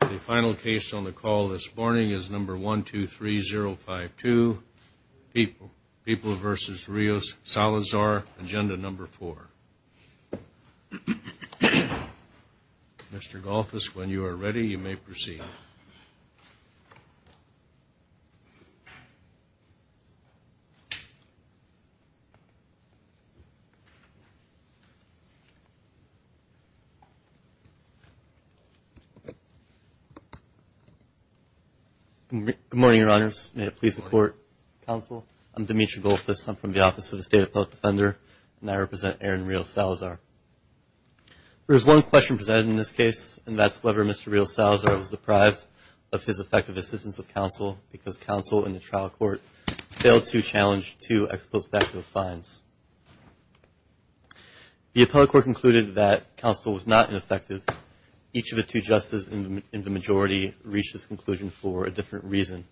The final case on the call this morning is number 123052, People v. Rios-Salazar, agenda number four. Mr. Golfus, when you are ready, you may proceed. Good morning, Your Honors. May it please the Court. Counsel, I'm Dimitri Golfus. I'm from the Office of the State Appellate Defender, and I represent Aaron Rios-Salazar. There is one question presented in this case, and that's whether Mr. Rios-Salazar was deprived of his effective assistance of counsel because counsel in the trial court failed to challenge two ex post facto fines. The appellate court concluded that counsel was not ineffective. Each of the two justices in the majority reached this conclusion for a different reason.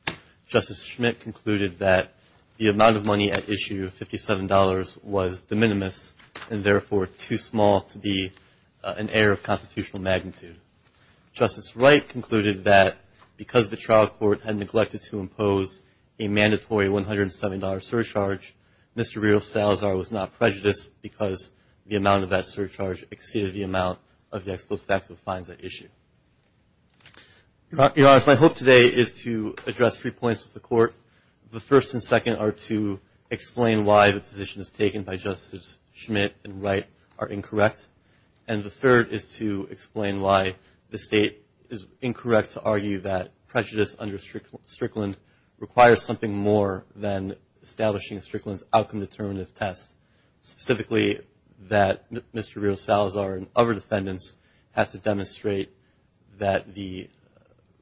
Justice Schmitt concluded that the amount of money at issue, $57, was de minimis and therefore too small to be an error of constitutional magnitude. Justice Wright concluded that because the trial court had neglected to impose a mandatory $107 surcharge, Mr. Rios-Salazar was not prejudiced because the amount of that surcharge exceeded the amount of the ex post facto fines at issue. Your Honors, my hope today is to address three points with the Court. The first and second are to explain why the positions taken by Justices Schmitt and Wright are incorrect, and the third is to explain why the State is incorrect to argue that prejudice under Strickland requires something more than establishing a Strickland's outcome determinative test. Specifically, that Mr. Rios-Salazar and other defendants have to demonstrate that the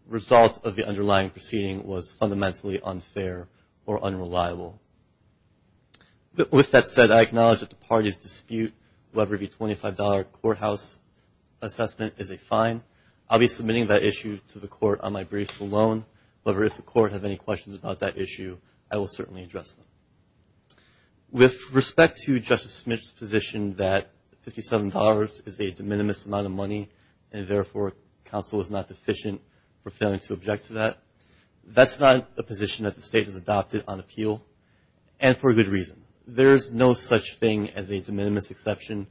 result of the underlying proceeding was fundamentally unfair or unreliable. With that said, I acknowledge that the parties dispute whether the $25 courthouse assessment is a fine. I'll be submitting that issue to the Court on my briefs alone. However, if the Court have any questions about that issue, I will certainly address them. With respect to Justice Schmitt's position that $57 is a de minimis amount of money and therefore counsel is not deficient for failing to object to that, that's not a position that the State has adopted on appeal, and for good reason. There's no such thing as a de minimis exception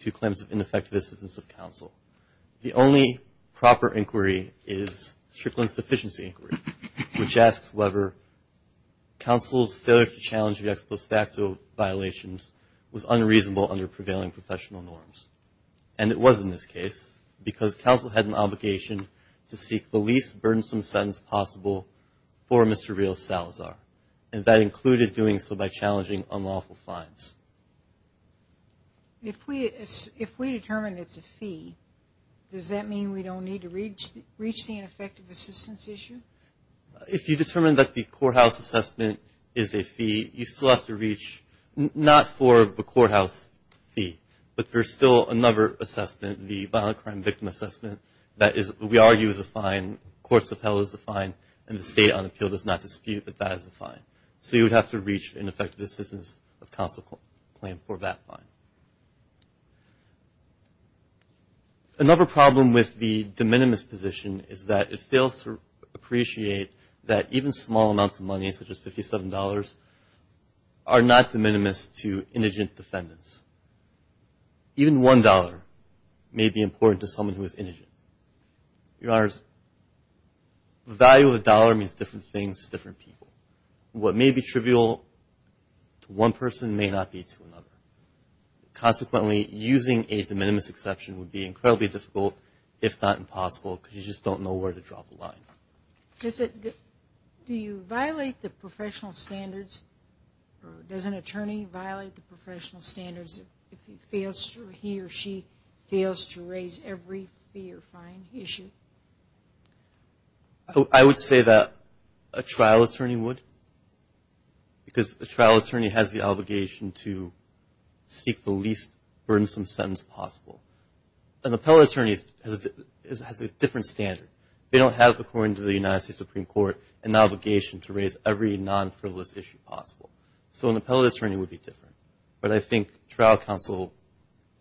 to claims of ineffective assistance of counsel. The only proper inquiry is Strickland's deficiency inquiry, which asks whether counsel's failure to challenge the ex post facto violations was unreasonable under prevailing professional norms. And it was in this case, because counsel had an obligation to seek the least burdensome sentence possible for Mr. Rios-Salazar, and that included doing so by challenging unlawful fines. If we determine it's a fee, does that mean we don't need to reach the ineffective assistance issue? If you determine that the courthouse assessment is a fee, you still have to reach not for the courthouse fee, but there's still another assessment, the violent crime victim assessment that we argue is a fine. Courts of Hell is a fine, and the State on appeal does not dispute that that is a fine. So you would have to reach ineffective assistance of counsel claim for that fine. Another problem with the de minimis position is that it fails to appreciate that even small amounts of money, such as $57, are not de minimis to indigent defendants. Even one dollar may be important to someone who is indigent. Your Honors, the value of a dollar means different things to different people. What may be trivial to one person may not be to another. Consequently, using a de minimis exception would be incredibly difficult, if not impossible, because you just don't know where to draw the line. Do you violate the professional standards, or does an attorney violate the professional standards if he or she fails to raise every fee or fine issue? I would say that a trial attorney would, because a trial attorney has the obligation to seek the least burdensome sentence possible. An appellate attorney has a different standard. They don't have, according to the United States Supreme Court, an obligation to raise every non-frivolous issue possible. So an appellate attorney would be different. But I think trial counsel,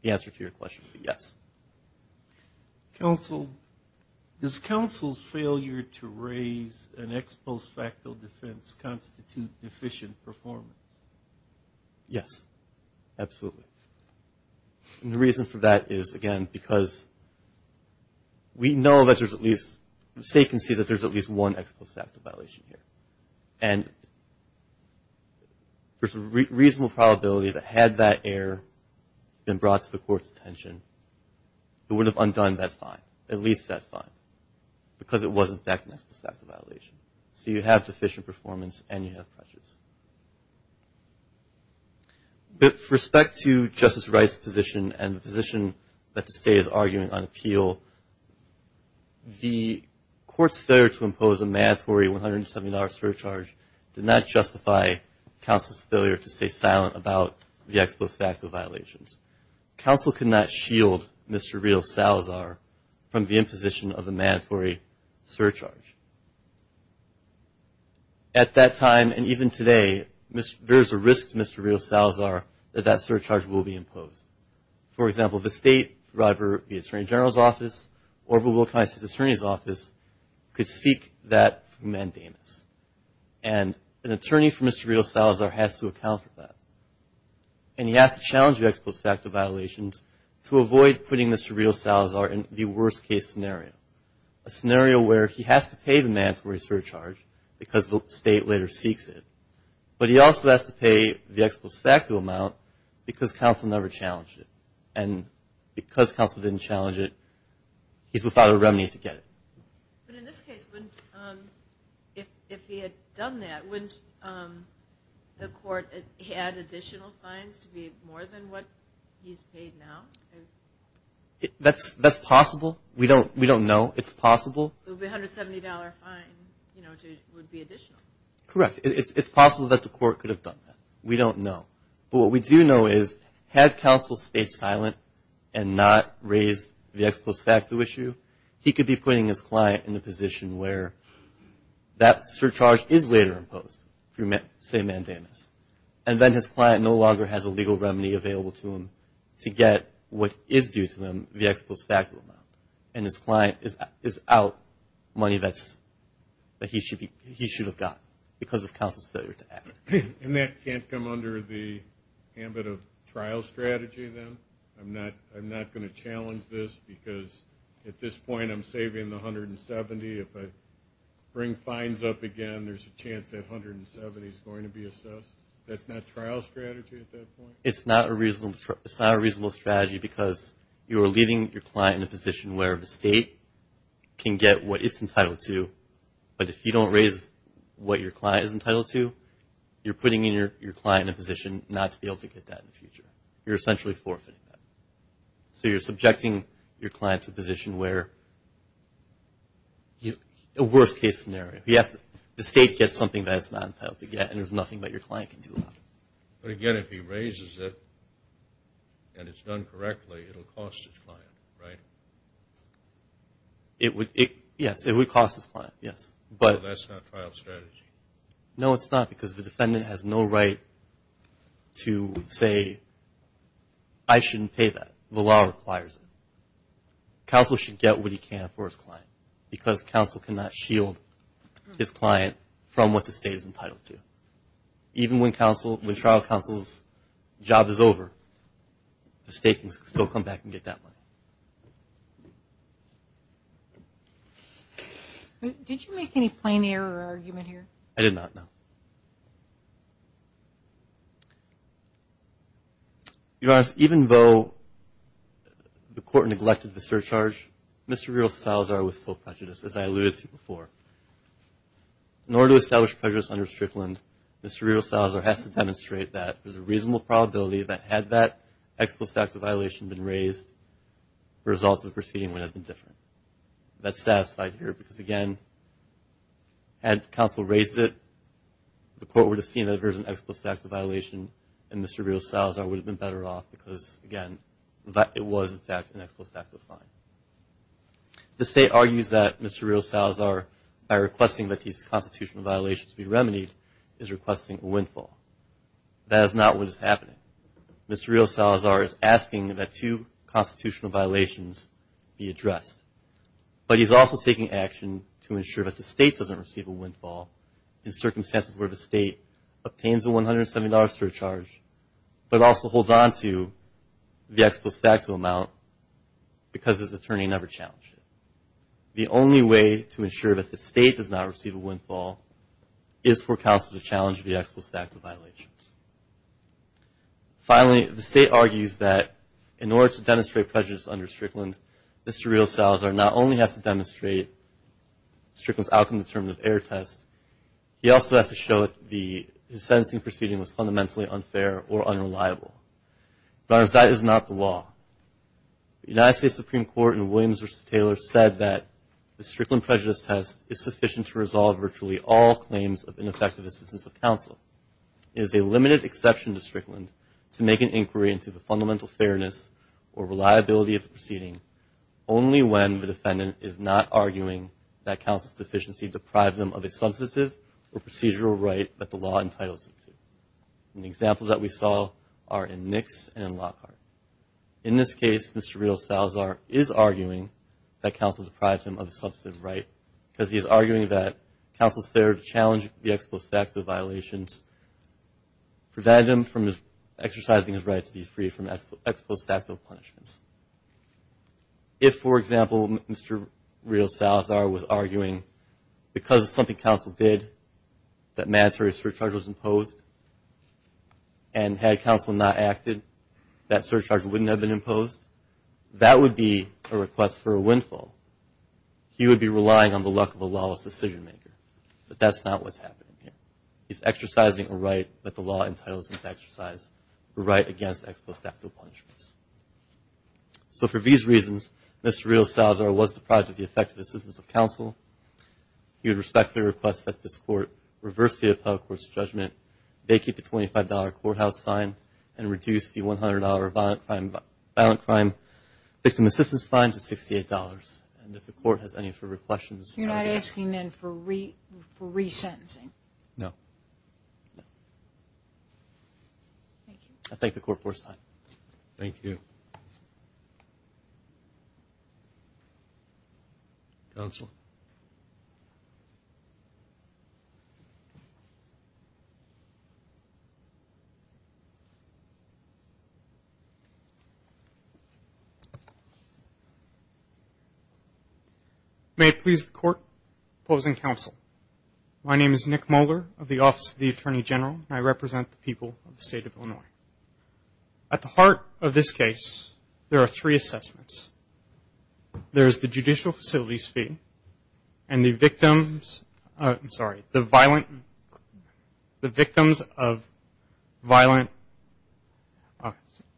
the answer to your question would be yes. Counsel, does counsel's failure to raise an ex post facto defense constitute deficient performance? Yes, absolutely. And the reason for that is, again, because we know that there's at least, say you can see that there's at least one ex post facto violation here. And there's at least one. It would have undone that fine, at least that fine, because it was, in fact, an ex post facto violation. So you have deficient performance and you have pressures. With respect to Justice Wright's position and the position that the state is arguing on appeal, the court's failure to impose a mandatory $170 surcharge did not justify counsel's failure to stay silent about the ex post facto violations. Counsel could not shield Mr. Rios-Salazar from the imposition of a mandatory surcharge. At that time, and even today, there's a risk to Mr. Rios-Salazar that that surcharge will be imposed. For example, the state, whether it be Attorney General's Office or the Wilkiness Attorney's Office, could seek that from Mandamus. And an attorney for Mr. Rios-Salazar has to account for that. And he has to challenge the ex post facto violations to avoid putting Mr. Rios-Salazar in the worst case scenario, a scenario where he has to pay the mandatory surcharge because the state later seeks it. But he also has to pay the ex post facto amount because counsel never challenged it. And because counsel didn't challenge it, he's without a remedy to get it. But in this case, if he had done that, wouldn't the court add additional fines to be more than what he's paid now? That's possible. We don't know. It's possible. The $170 fine would be additional. Correct. It's possible that the court could have done that. We don't know. But what we do know is had counsel stayed silent and not raised the ex post facto issue, he could be putting his client in a position where that surcharge is later imposed through, say, Mandamus. And then his client no longer has a legal remedy available to him to get what is due to him, the ex post facto amount. And his client is out money that he should have gotten because of counsel's failure to act. And that can't come under the ambit of trial strategy then? I'm not going to challenge this because at this point I'm saving the $170. If I bring fines up again, there's a chance that $170 is going to be assessed. That's not trial strategy at that point? It's not a reasonable strategy because you're leaving your client in a position where the state can get what it's entitled to. But if you don't raise what your client is entitled to, you're putting your client in a position not to be able to get that in the future. You're essentially forfeiting that. So you're subjecting your client to a position where, a worst-case scenario, the state gets something that it's not entitled to get and there's nothing that your client can do about it. But again, if he raises it and it's done correctly, it will cost his client, right? Yes, it would cost his client, yes. But that's not trial strategy? No, it's not because the defendant has no right to say, I shouldn't pay that. The law requires it. Counsel should get what he can for his client because counsel cannot shield his client from what the state is entitled to. Even when trial counsel's job is over, the state can still come back and get that money. Did you make any plain error argument here? I did not, no. Your Honor, even though the court neglected the surcharge, Mr. Rios-Salazar was sole prejudice, as I alluded to before. In order to establish prejudice under Strickland, Mr. Rios-Salazar has to demonstrate that there's a reasonable probability that had that ex post facto violation been raised, the results of the proceeding would have been different. That's satisfied here because, again, had counsel raised it, the court would have seen that there's an ex post facto violation and Mr. Rios-Salazar would have been better off because, again, it was, in fact, an ex post facto fine. The state argues that Mr. Rios-Salazar, by requesting that these constitutional violations be remedied, is requesting a windfall. That is not what is happening. Mr. Rios-Salazar is asking that two constitutional violations be addressed, but he's also taking action to ensure that the state doesn't receive a windfall in circumstances where the state obtains a $170 surcharge but also holds on to the ex post facto amount because his attorney never challenged it. The only way to ensure that the state does not receive a windfall is for counsel to challenge the ex post facto violations. Finally, the state argues that in order to demonstrate prejudice under Strickland, Mr. Rios-Salazar not only has to demonstrate Strickland's outcome determinative error test, he also has to show that the sentencing proceeding was fundamentally unfair or unreliable. But that is not the law. The United States Supreme Court in Williams v. Taylor said that the Strickland prejudice test is sufficient to resolve virtually all claims of ineffective assistance of counsel. It is a limited exception to Strickland to make an inquiry into the fundamental fairness or reliability of the proceeding only when the defendant is not arguing that counsel's deficiency deprived them of a substantive or procedural right that the law entitles them to. And the examples that we saw are in Nix and Lockhart. In this case, Mr. Rios-Salazar is arguing that counsel deprived him of a substantive right because he is arguing that counsel's failure to challenge the ex post facto violations prevented him from exercising his right to be free from ex post facto punishments. If, for example, Mr. Rios-Salazar was arguing because of something counsel did that mandatory surcharge was imposed and had counsel not acted, that surcharge wouldn't have been imposed, that would be a request for a windfall. He would be relying on the luck of a lawless decision maker. But that's not what's happening here. He's exercising a right that the law entitles him to exercise, a right against ex post facto punishments. So for these reasons, Mr. Rios-Salazar was deprived of the effective assistance of counsel. He would respectfully request that this court reverse the appellate court's fine and reduce the $100 violent crime victim assistance fine to $68. And if the court has any further questions. You're not asking then for resentencing? No. Thank you. I thank the court for its time. Thank you. Thank you. Counsel. May it please the court, opposing counsel, my name is Nick Moeller of the Office of the Attorney General, and I represent the people of the State of Illinois. At the heart of this case, there are three assessments. There's the judicial facilities fee, and the victims, I'm sorry, the violent, the victims of violent,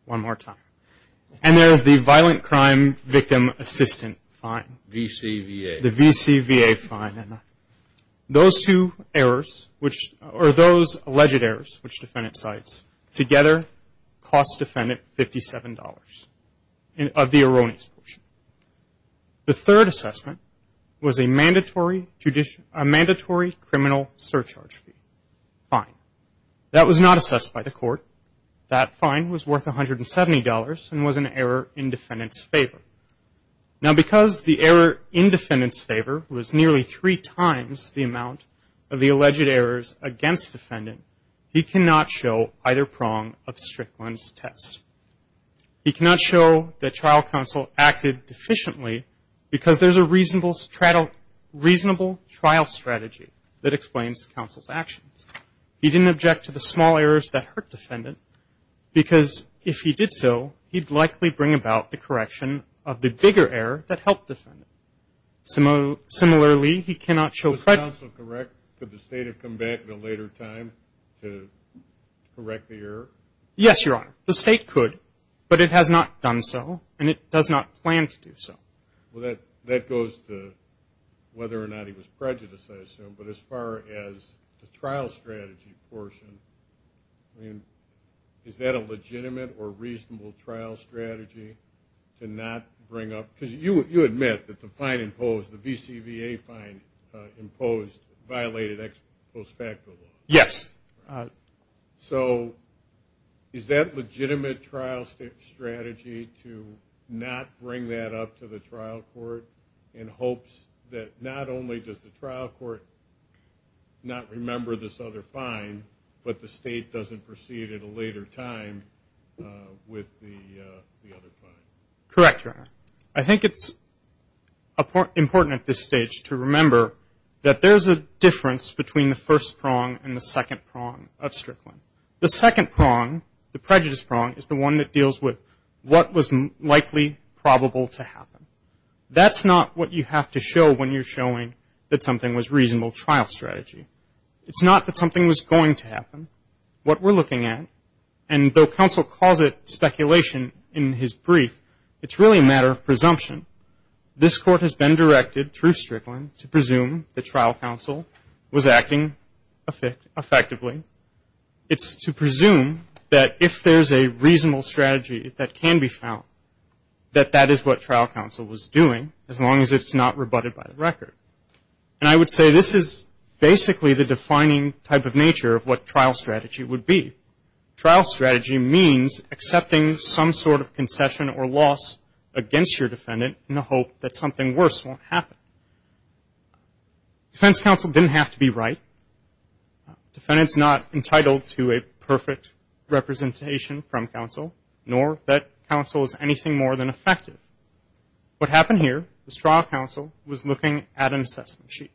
one more time. And there's the violent crime victim assistant fine. VCVA. The VCVA fine. Those two errors, or those alleged errors, which the defendant cites, together cost defendant $57 of the erroneous portion. The third assessment was a mandatory criminal surcharge fee. Fine. That was not assessed by the court. That fine was worth $170 and was an error in defendant's favor. Now because the error in defendant's favor was nearly three times the amount of the test. He cannot show that trial counsel acted efficiently because there's a reasonable trial strategy that explains counsel's actions. He didn't object to the small errors that hurt defendant because if he did so, he'd likely bring about the correction of the bigger error that helped defendant. Similarly, he cannot show credit. Is counsel correct? Could the state have come back at a later time to correct the error? Yes, Your Honor. The state could, but it has not done so, and it does not plan to do so. Well, that goes to whether or not he was prejudiced, I assume. But as far as the trial strategy portion, is that a legitimate or reasonable trial strategy to not bring up? Because you admit that the fine imposed, the VCVA fine imposed, violated ex post facto law. Yes. So is that legitimate trial strategy to not bring that up to the trial court in hopes that not only does the trial court not remember this other fine, but the state doesn't proceed at a later time with the other fine? Correct, Your Honor. I think it's important at this stage to remember that there's a difference between the first prong and the second prong of Strickland. The second prong, the prejudice prong, is the one that deals with what was likely probable to happen. That's not what you have to show when you're showing that something was reasonable trial strategy. It's not that something was going to happen. What we're looking at, and though counsel calls it speculation in his brief, it's really a matter of presumption. This court has been directed through Strickland to presume that trial counsel was acting effectively. It's to presume that if there's a reasonable strategy that can be found, that that is what trial counsel was doing, as long as it's not rebutted by the record. And I would say this is basically the defining type of nature of what trial strategy would be. Trial strategy means accepting some sort of concession or loss against your defendant in the hope that something worse won't happen. Defense counsel didn't have to be right. Defendant's not entitled to a perfect representation from counsel, nor that counsel is anything more than effective. What happened here is trial counsel was looking at an assessment sheet.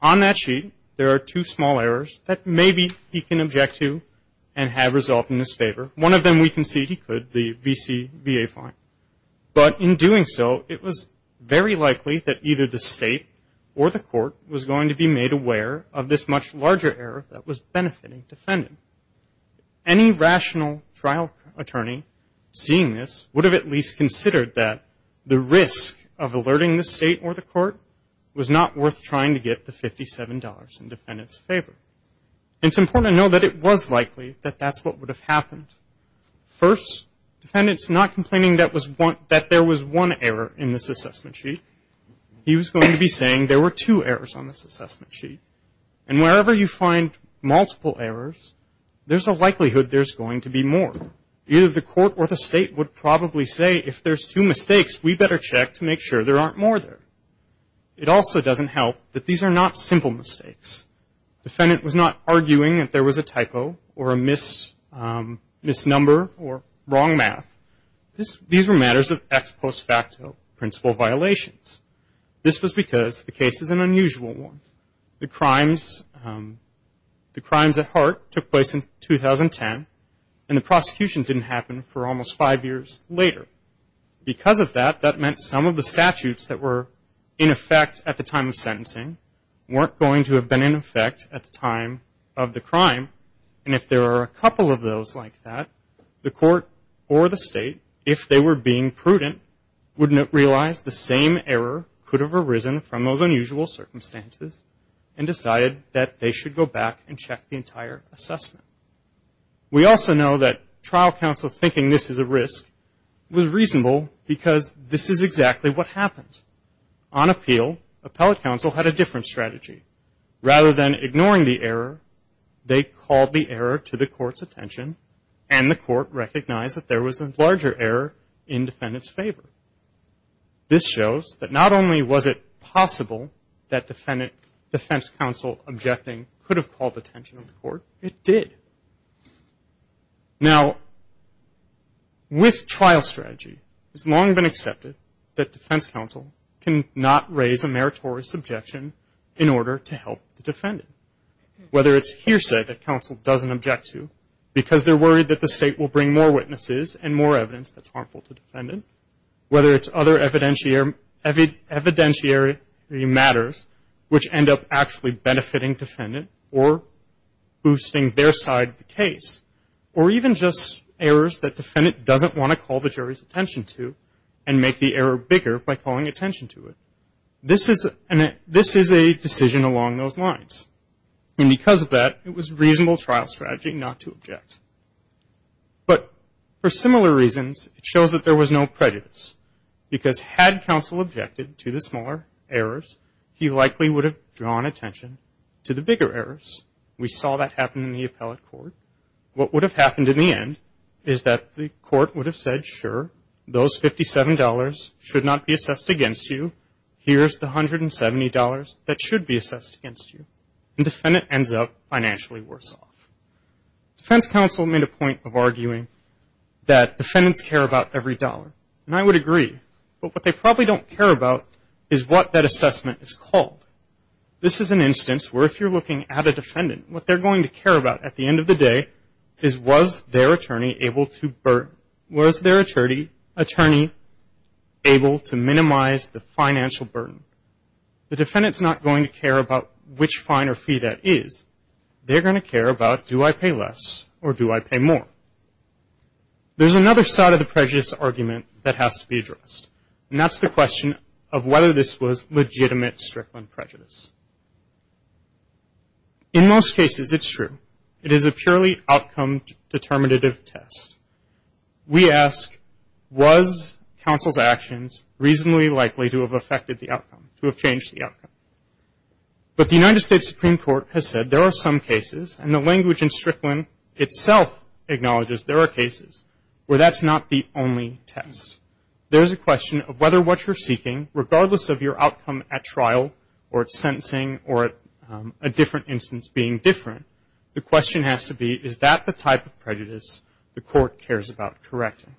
On that sheet, there are two small errors that maybe he can object to and have result in his favor. One of them we concede he could, the VCBA fine. But in doing so, it was very likely that either the state or the court was going to be made aware of this much larger error that was benefiting defendant. Any rational trial attorney seeing this would have at least considered that the $57 in defendant's favor. It's important to know that it was likely that that's what would have happened. First, defendant's not complaining that there was one error in this assessment sheet. He was going to be saying there were two errors on this assessment sheet. And wherever you find multiple errors, there's a likelihood there's going to be more. Either the court or the state would probably say, if there's two mistakes, we better check to make sure there aren't more there. It also doesn't help that these are not simple mistakes. Defendant was not arguing that there was a typo or a misnumber or wrong math. These were matters of ex post facto principle violations. This was because the case is an unusual one. The crimes at heart took place in 2010, and the prosecution didn't happen for almost five years later. Because of that, that meant some of the statutes that were in effect at the time of sentencing weren't going to have been in effect at the time of the crime. And if there are a couple of those like that, the court or the state, if they were being prudent, would realize the same error could have arisen from those unusual circumstances and decided that they should go back and check the entire assessment. We also know that trial counsel thinking this is a risk was reasonable because this is exactly what happened. On appeal, appellate counsel had a different strategy. Rather than ignoring the error, they called the error to the court's attention, and the court recognized that there was a larger error in defendant's favor. This shows that not only was it possible that defense counsel objecting could have called the attention of the court, it did. Now, with trial strategy, it's long been accepted that defense counsel cannot raise a meritorious objection in order to help the defendant. Whether it's hearsay that counsel doesn't object to because they're worried that the state will bring more witnesses and more evidence that's harmful to the defendant, whether it's other evidentiary matters which end up actually benefiting defendant or boosting their side of the case, or even just errors that defendant doesn't want to call the jury's attention to and make the error bigger by calling attention to it, this is a decision along those lines. And because of that, it was reasonable trial strategy not to object. But for similar reasons, it shows that there was no prejudice because had counsel objected to the smaller errors, he likely would have drawn attention to the bigger errors. We saw that happen in the appellate court. What would have happened in the end is that the court would have said, sure, those $57 should not be assessed against you. Here's the $170 that should be assessed against you. The defendant ends up financially worse off. Defense counsel made a point of arguing that defendants care about every dollar. And I would agree. But what they probably don't care about is what that assessment is called. This is an instance where if you're looking at a defendant, what they're going to care about at the end of the day is, was their attorney able to minimize the financial burden? The defendant's not going to care about which fine or fee that is. They're going to care about, do I pay less or do I pay more? There's another side of the prejudice argument that has to be addressed, and that's the question of whether this was legitimate Strickland prejudice. In most cases, it's true. It is a purely outcome determinative test. We ask, was counsel's actions reasonably likely to have affected the outcome, to have changed the outcome? But the United States Supreme Court has said there are some cases, and the language in Strickland itself acknowledges there are cases, where that's not the only test. There's a question of whether what you're seeking, regardless of your outcome at trial or at sentencing or at a different instance being different, the question has to be, is that the type of prejudice the court cares about correcting?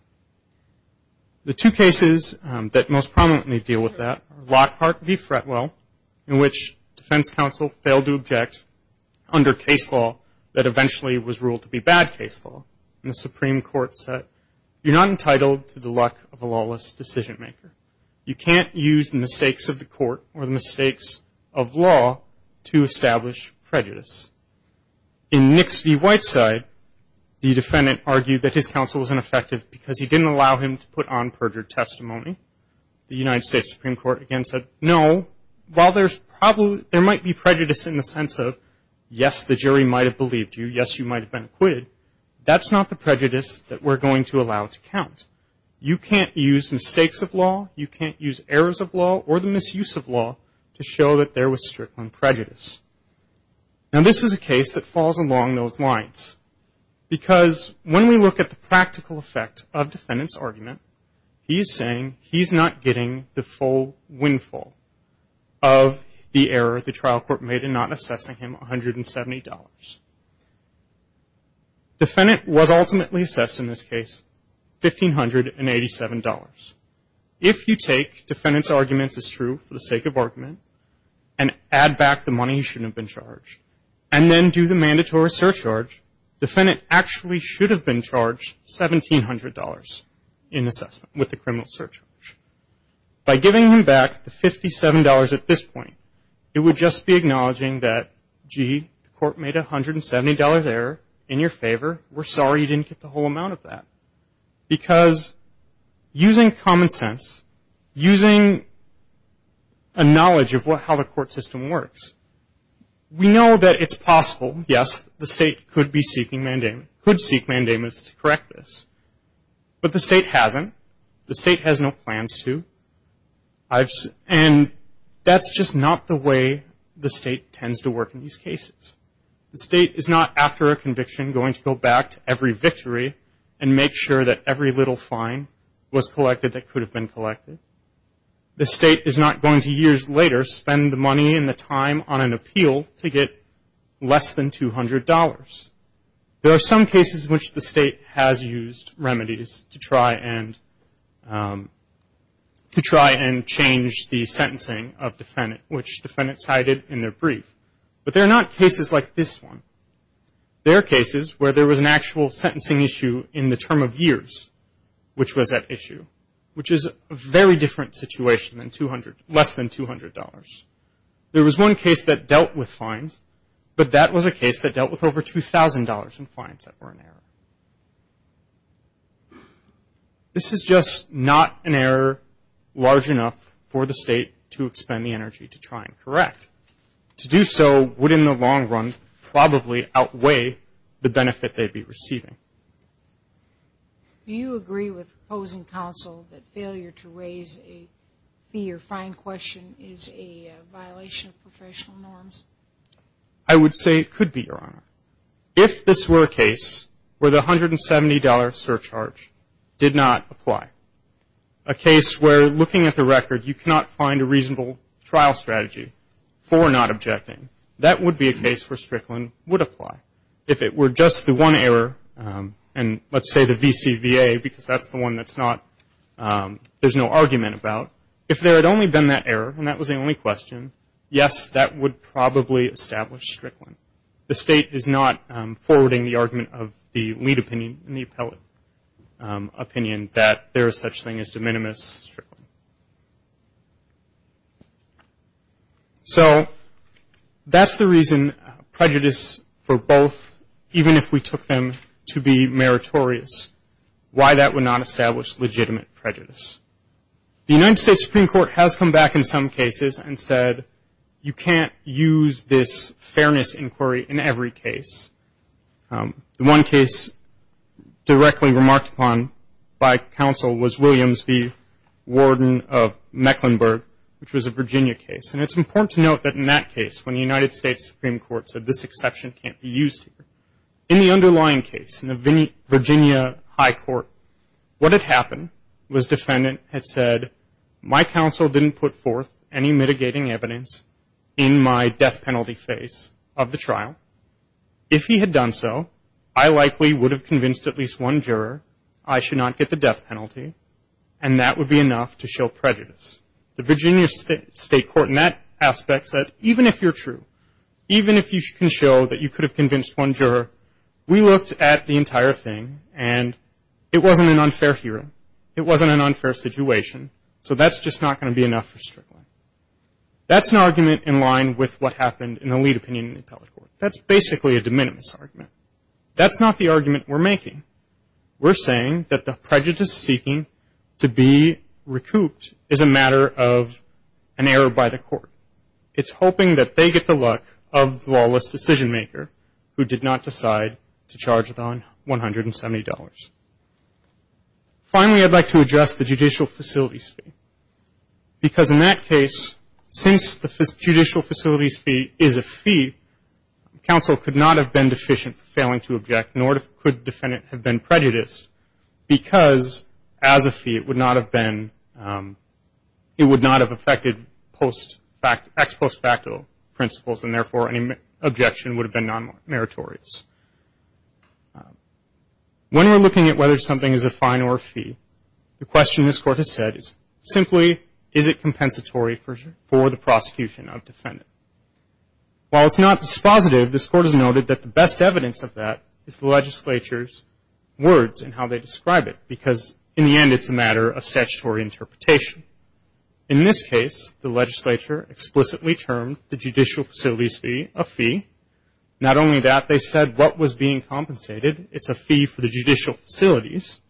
The two cases that most prominently deal with that are Lockhart v. Fretwell, in which defense counsel failed to object under case law that eventually was ruled to be bad case law. And the Supreme Court said, you're not entitled to the luck of a lawless decision maker. You can't use the mistakes of the court or the mistakes of law to establish prejudice. In Nix v. Whiteside, the defendant argued that his counsel was ineffective because he didn't allow him to put on perjured testimony. The United States Supreme Court again said, no, while there might be prejudice in the sense of, yes, the jury might have believed you. Yes, you might have been acquitted. That's not the prejudice that we're going to allow to count. You can't use mistakes of law. You can't use errors of law or the misuse of law to show that there was Strickland prejudice. Now, this is a case that falls along those lines because when we look at the practical effect of defendant's argument, he's saying he's not getting the full windfall of the error the trial court made in not assessing him $170. Defendant was ultimately assessed in this case $1,587. If you take defendant's arguments as true for the sake of argument and add back the money he shouldn't have been charged and then do the mandatory surcharge, defendant actually should have been charged $1,700 in assessment with the criminal surcharge. By giving him back the $57 at this point, it would just be acknowledging that, gee, the court made a $170 error in your favor. We're sorry you didn't get the whole amount of that. Because using common sense, using a knowledge of how the court system works, we know that it's possible, yes, the state could be seeking mandamus, could seek mandamus to correct this. But the state hasn't. The state has no plans to. And that's just not the way the state tends to work in these cases. The state is not, after a conviction, going to go back to every victory and make sure that every little fine was collected that could have been collected. The state is not going to, years later, spend the money and the time on an appeal to get less than $200. There are some cases in which the state has used remedies to try and change the sentencing of defendant, which defendants cited in their brief. But they're not cases like this one. They're cases where there was an actual sentencing issue in the term of years, which was at issue, which is a very different situation than less than $200. There was one case that dealt with fines, but that was a case that dealt with over $2,000 in fines that were an error. This is just not an error large enough for the state to expend the energy to try and correct. To do so would, in the long run, probably outweigh the benefit they'd be receiving. Do you agree with opposing counsel that failure to raise a fee or fine question is a violation of professional norms? I would say it could be, Your Honor. If this were a case where the $170 surcharge did not apply, a case where, looking at the record, you cannot find a reasonable trial strategy for not objecting, that would be a case where Strickland would apply. If it were just the one error, and let's say the VCVA, because that's the one that's not, there's no argument about, if there had only been that error, and that was the only question, yes, that would probably establish Strickland. The state is not forwarding the argument of the lead opinion and the appellate opinion that there is such thing as de minimis Strickland. So that's the reason prejudice for both, even if we took them to be meritorious, why that would not establish legitimate prejudice. The United States Supreme Court has come back in some cases and said you can't use this fairness inquiry in every case. The one case directly remarked upon by counsel was Williams v. Warden of Mecklenburg, which was a Virginia case. And it's important to note that in that case, when the United States Supreme Court said this exception can't be used, in the underlying case, in the Virginia High Court, what had happened was defendant had said, my counsel didn't put forth any mitigating evidence in my death penalty phase of the trial. If he had done so, I likely would have convinced at least one juror I should not get the death penalty, and that would be enough to show prejudice. The Virginia State Court in that aspect said even if you're true, even if you can show that you could have convinced one juror, we looked at the entire thing and it wasn't an unfair hearing. It wasn't an unfair situation, so that's just not going to be enough for Strickland. That's an argument in line with what happened in the lead opinion in the appellate court. That's basically a de minimis argument. That's not the argument we're making. We're saying that the prejudice seeking to be recouped is a matter of an error by the court. It's hoping that they get the luck of the lawless decision maker who did not decide to charge the $170. Finally, I'd like to address the judicial facilities fee. Because in that case, since the judicial facilities fee is a fee, counsel could not have been deficient for failing to object, nor could the defendant have been prejudiced because as a fee it would not have been, it would not have affected ex post facto principles, and therefore any objection would have been non-meritorious. When we're looking at whether something is a fine or a fee, the question this court has said is simply is it compensatory for the prosecution of the defendant? While it's not dispositive, this court has noted that the best evidence of that is the legislature's words and how they describe it because in the end it's a matter of statutory interpretation. In this case, the legislature explicitly termed the judicial facilities fee a fee. Not only that, they said what was being compensated, it's a fee for the judicial facilities,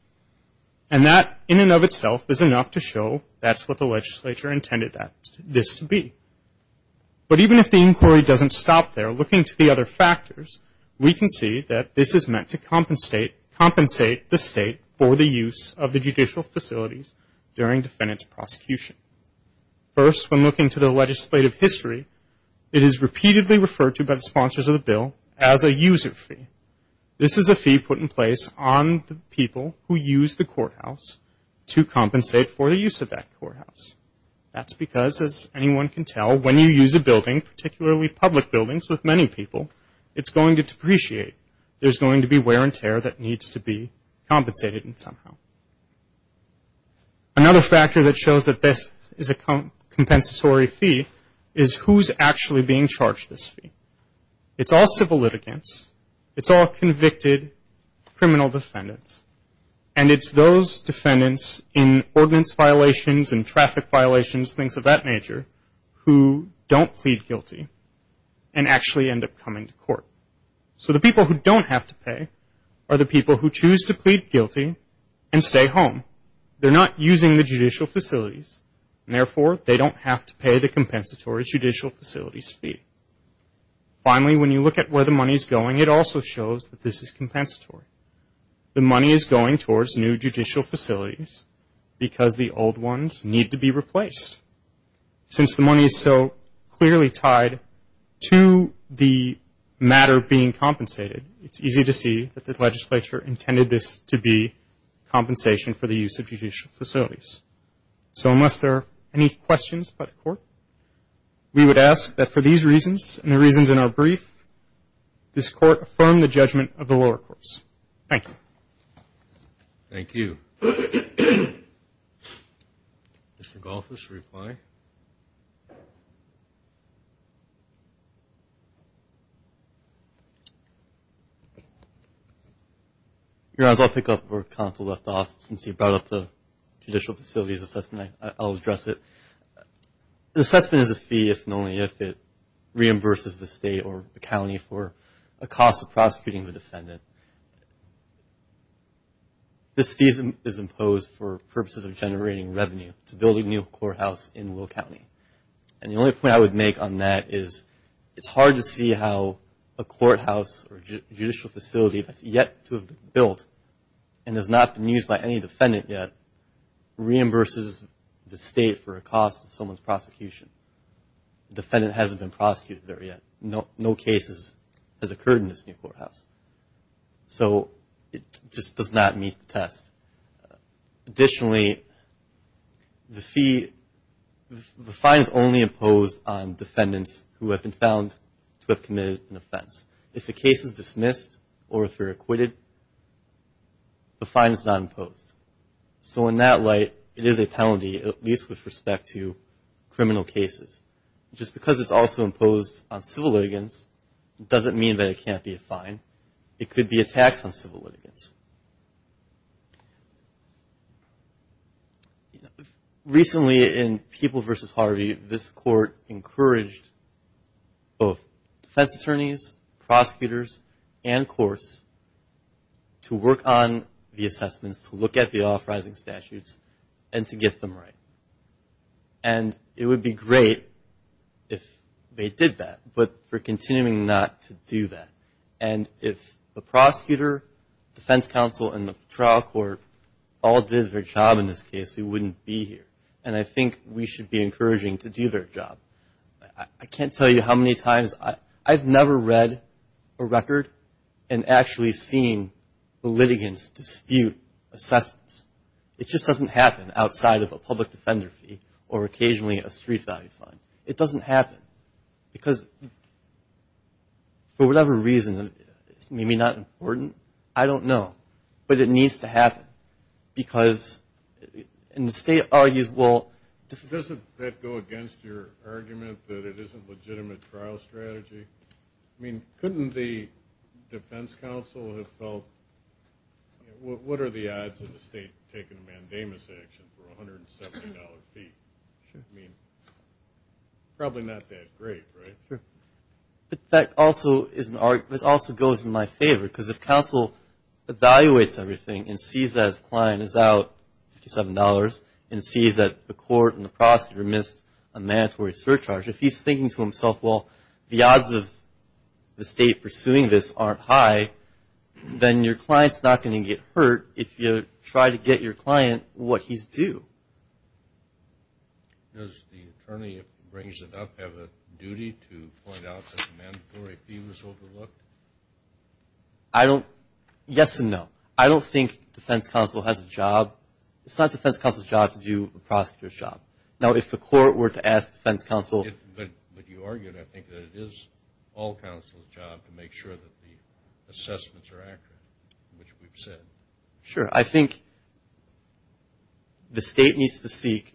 and that in and of itself is enough to show that's what the legislature intended this to be. But even if the inquiry doesn't stop there, looking to the other factors, we can see that this is meant to compensate the state for the use of the judicial facilities during defendant's prosecution. First, when looking to the legislative history, it is repeatedly referred to by the sponsors of the bill as a user fee. This is a fee put in place on the people who use the courthouse to compensate for the use of that courthouse. That's because, as anyone can tell, when you use a building, particularly public buildings with many people, it's going to depreciate. There's going to be wear and tear that needs to be compensated somehow. Another factor that shows that this is a compensatory fee is who's actually being charged this fee. It's all civil litigants. It's all convicted criminal defendants, and it's those defendants in ordinance violations and traffic violations, things of that nature, who don't plead guilty and actually end up coming to court. So the people who don't have to pay are the people who choose to plead guilty and stay home. They're not using the judicial facilities, and therefore they don't have to pay the compensatory judicial facilities fee. Finally, when you look at where the money is going, it also shows that this is compensatory. The money is going towards new judicial facilities because the old ones need to be replaced. Since the money is so clearly tied to the matter being compensated, it's easy to see that the legislature intended this to be compensation for the use of judicial facilities. So unless there are any questions by the court, we would ask that for these reasons and the reasons in our brief, this court affirm the judgment of the lower courts. Thank you. Thank you. Mr. Golfos, reply. Your Honor, I'll pick up where counsel left off. Since you brought up the judicial facilities assessment, I'll address it. An assessment is a fee if and only if it reimburses the state or the county for a cost of prosecuting the defendant. This fee is imposed for purposes of generating revenue to build a new courthouse in Will County. And the only point I would make on that is it's hard to see how a courthouse or judicial facility that's yet to be built and has not been used by any defendant yet reimburses the state for a cost of someone's prosecution. The defendant hasn't been prosecuted there yet. No case has occurred in this new courthouse. So it just does not meet the test. Additionally, the fee, the fine is only imposed on defendants who have been found to have committed an offense. If the case is dismissed or if they're acquitted, the fine is not imposed. So in that light, it is a penalty, at least with respect to criminal cases. Just because it's also imposed on civil litigants doesn't mean that it can't be a fine. It could be a tax on civil litigants. Recently in People v. Harvey, this court encouraged both defense attorneys, prosecutors, and courts to work on the assessments, to look at the authorizing statutes, and to get them right. And it would be great if they did that, but we're continuing not to do that. And if the prosecutor, defense counsel, and the trial court all did their job in this case, we wouldn't be here. And I think we should be encouraging to do their job. I can't tell you how many times I've never read a record and actually seen the litigants dispute assessments. It just doesn't happen outside of a public defender fee or occasionally a street value fine. It doesn't happen. Because for whatever reason, maybe not important, I don't know, but it needs to happen because the state argues well. Doesn't that go against your argument that it is a legitimate trial strategy? I mean, couldn't the defense counsel have felt what are the odds of the state taking a mandamus action for $170 a fee? I mean, probably not that great, right? But that also goes in my favor because if counsel evaluates everything and sees that his client is out $57 and sees that the court and the prosecutor missed a mandatory surcharge, if he's thinking to himself, well, the odds of the state pursuing this aren't high, then your client's not going to get hurt if you try to get your client what he's due. Does the attorney, if he brings it up, have a duty to point out that the mandatory fee was overlooked? Yes and no. I don't think defense counsel has a job. It's not defense counsel's job to do a prosecutor's job. Now, if the court were to ask defense counsel. But you argued, I think, that it is all counsel's job to make sure that the assessments are accurate, which we've said. Sure. I think the state needs to seek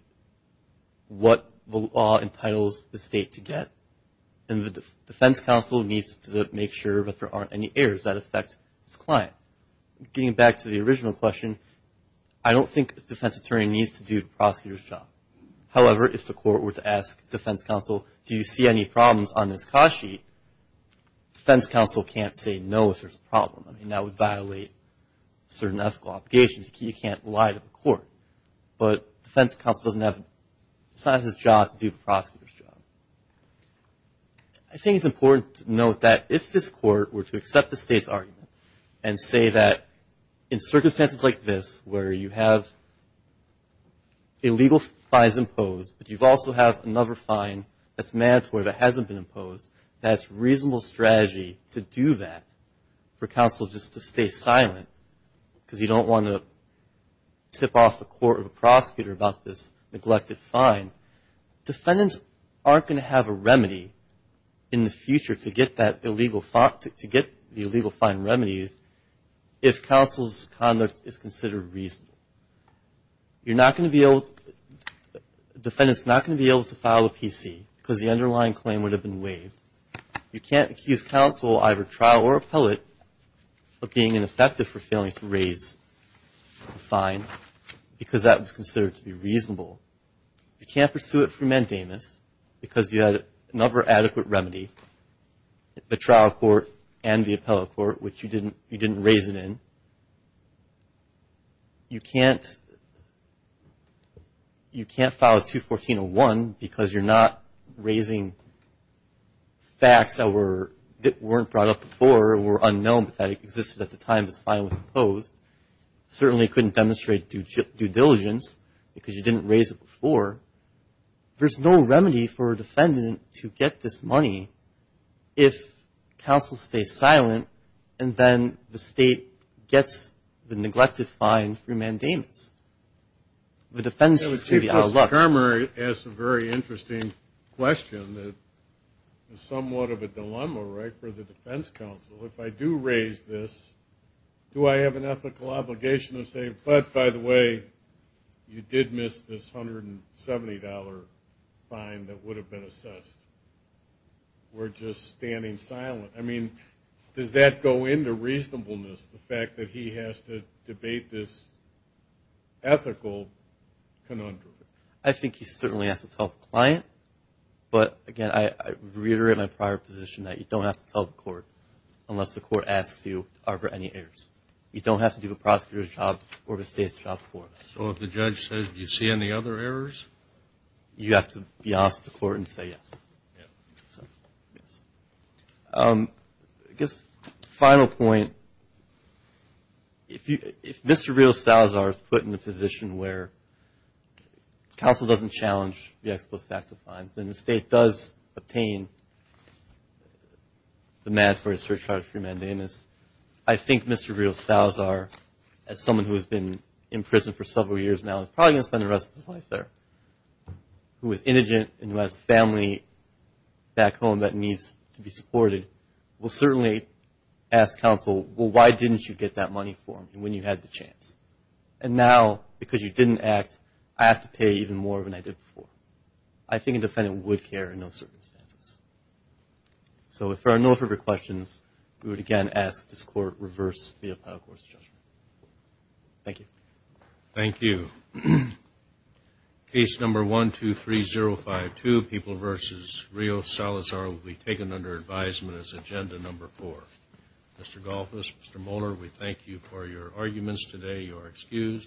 what the law entitles the state to get, and the defense counsel needs to make sure that there aren't any errors that affect his client. Getting back to the original question, I don't think the defense attorney needs to do the prosecutor's job. However, if the court were to ask defense counsel, do you see any problems on this cost sheet, defense counsel can't say no if there's a problem. I mean, that would violate certain ethical obligations. You can't lie to the court. But defense counsel doesn't have, it's not his job to do the prosecutor's job. I think it's important to note that if this court were to accept the state's argument and say that in circumstances like this where you have illegal fines imposed, but you also have another fine that's mandatory that hasn't been imposed, that it's a reasonable strategy to do that for counsel just to stay silent because you don't want to tip off the court or the prosecutor about this neglected fine, defendants aren't going to have a remedy in the future to get that illegal, to get the illegal fine remedies if counsel's conduct is considered reasonable. You're not going to be able, defendants are not going to be able to file a PC because the underlying claim would have been waived. You can't accuse counsel, either trial or appellate, of being ineffective for failing to raise the fine because that was considered to be reasonable. You can't pursue it for mandamus because you had another adequate remedy, the trial court and the appellate court, which you didn't raise it in. You can't file a 214-01 because you're not raising facts that weren't brought up before or were unknown that existed at the time this fine was imposed. Certainly couldn't demonstrate due diligence because you didn't raise it before. There's no remedy for a defendant to get this money if counsel stays silent and then the state gets the neglected fine through mandamus. The defense is going to be out of luck. Mr. Kramer asked a very interesting question that is somewhat of a dilemma, right, for the defense counsel. If I do raise this, do I have an ethical obligation to say, but by the way, you did miss this $170 fine that would have been assessed? We're just standing silent. I mean, does that go into reasonableness, the fact that he has to debate this ethical conundrum? I think he certainly has to tell the client. But, again, I reiterate my prior position that you don't have to tell the court unless the court asks you to harbor any errors. You don't have to do the prosecutor's job or the state's job for it. So if the judge says, do you see any other errors? You have to be honest with the court and say yes. Yes. I guess final point. If Mr. Rios-Salazar is put in a position where counsel doesn't challenge the ex post facto fines, then the state does obtain the mandatory surcharge through mandamus. I think Mr. Rios-Salazar, as someone who has been in prison for several years now, is probably going to spend the rest of his life there, who is indigent and who has a family back home that needs to be supported, will certainly ask counsel, well, why didn't you get that money for him when you had the chance? And now, because you didn't act, I have to pay even more than I did before. I think a defendant would care in those circumstances. So if there are no further questions, we would again ask this Court reverse the appeal court's judgment. Thank you. Thank you. Case number 123052, People v. Rios-Salazar, will be taken under advisement as agenda number four. Mr. Golfos, Mr. Mohler, we thank you for your arguments today. You are excused.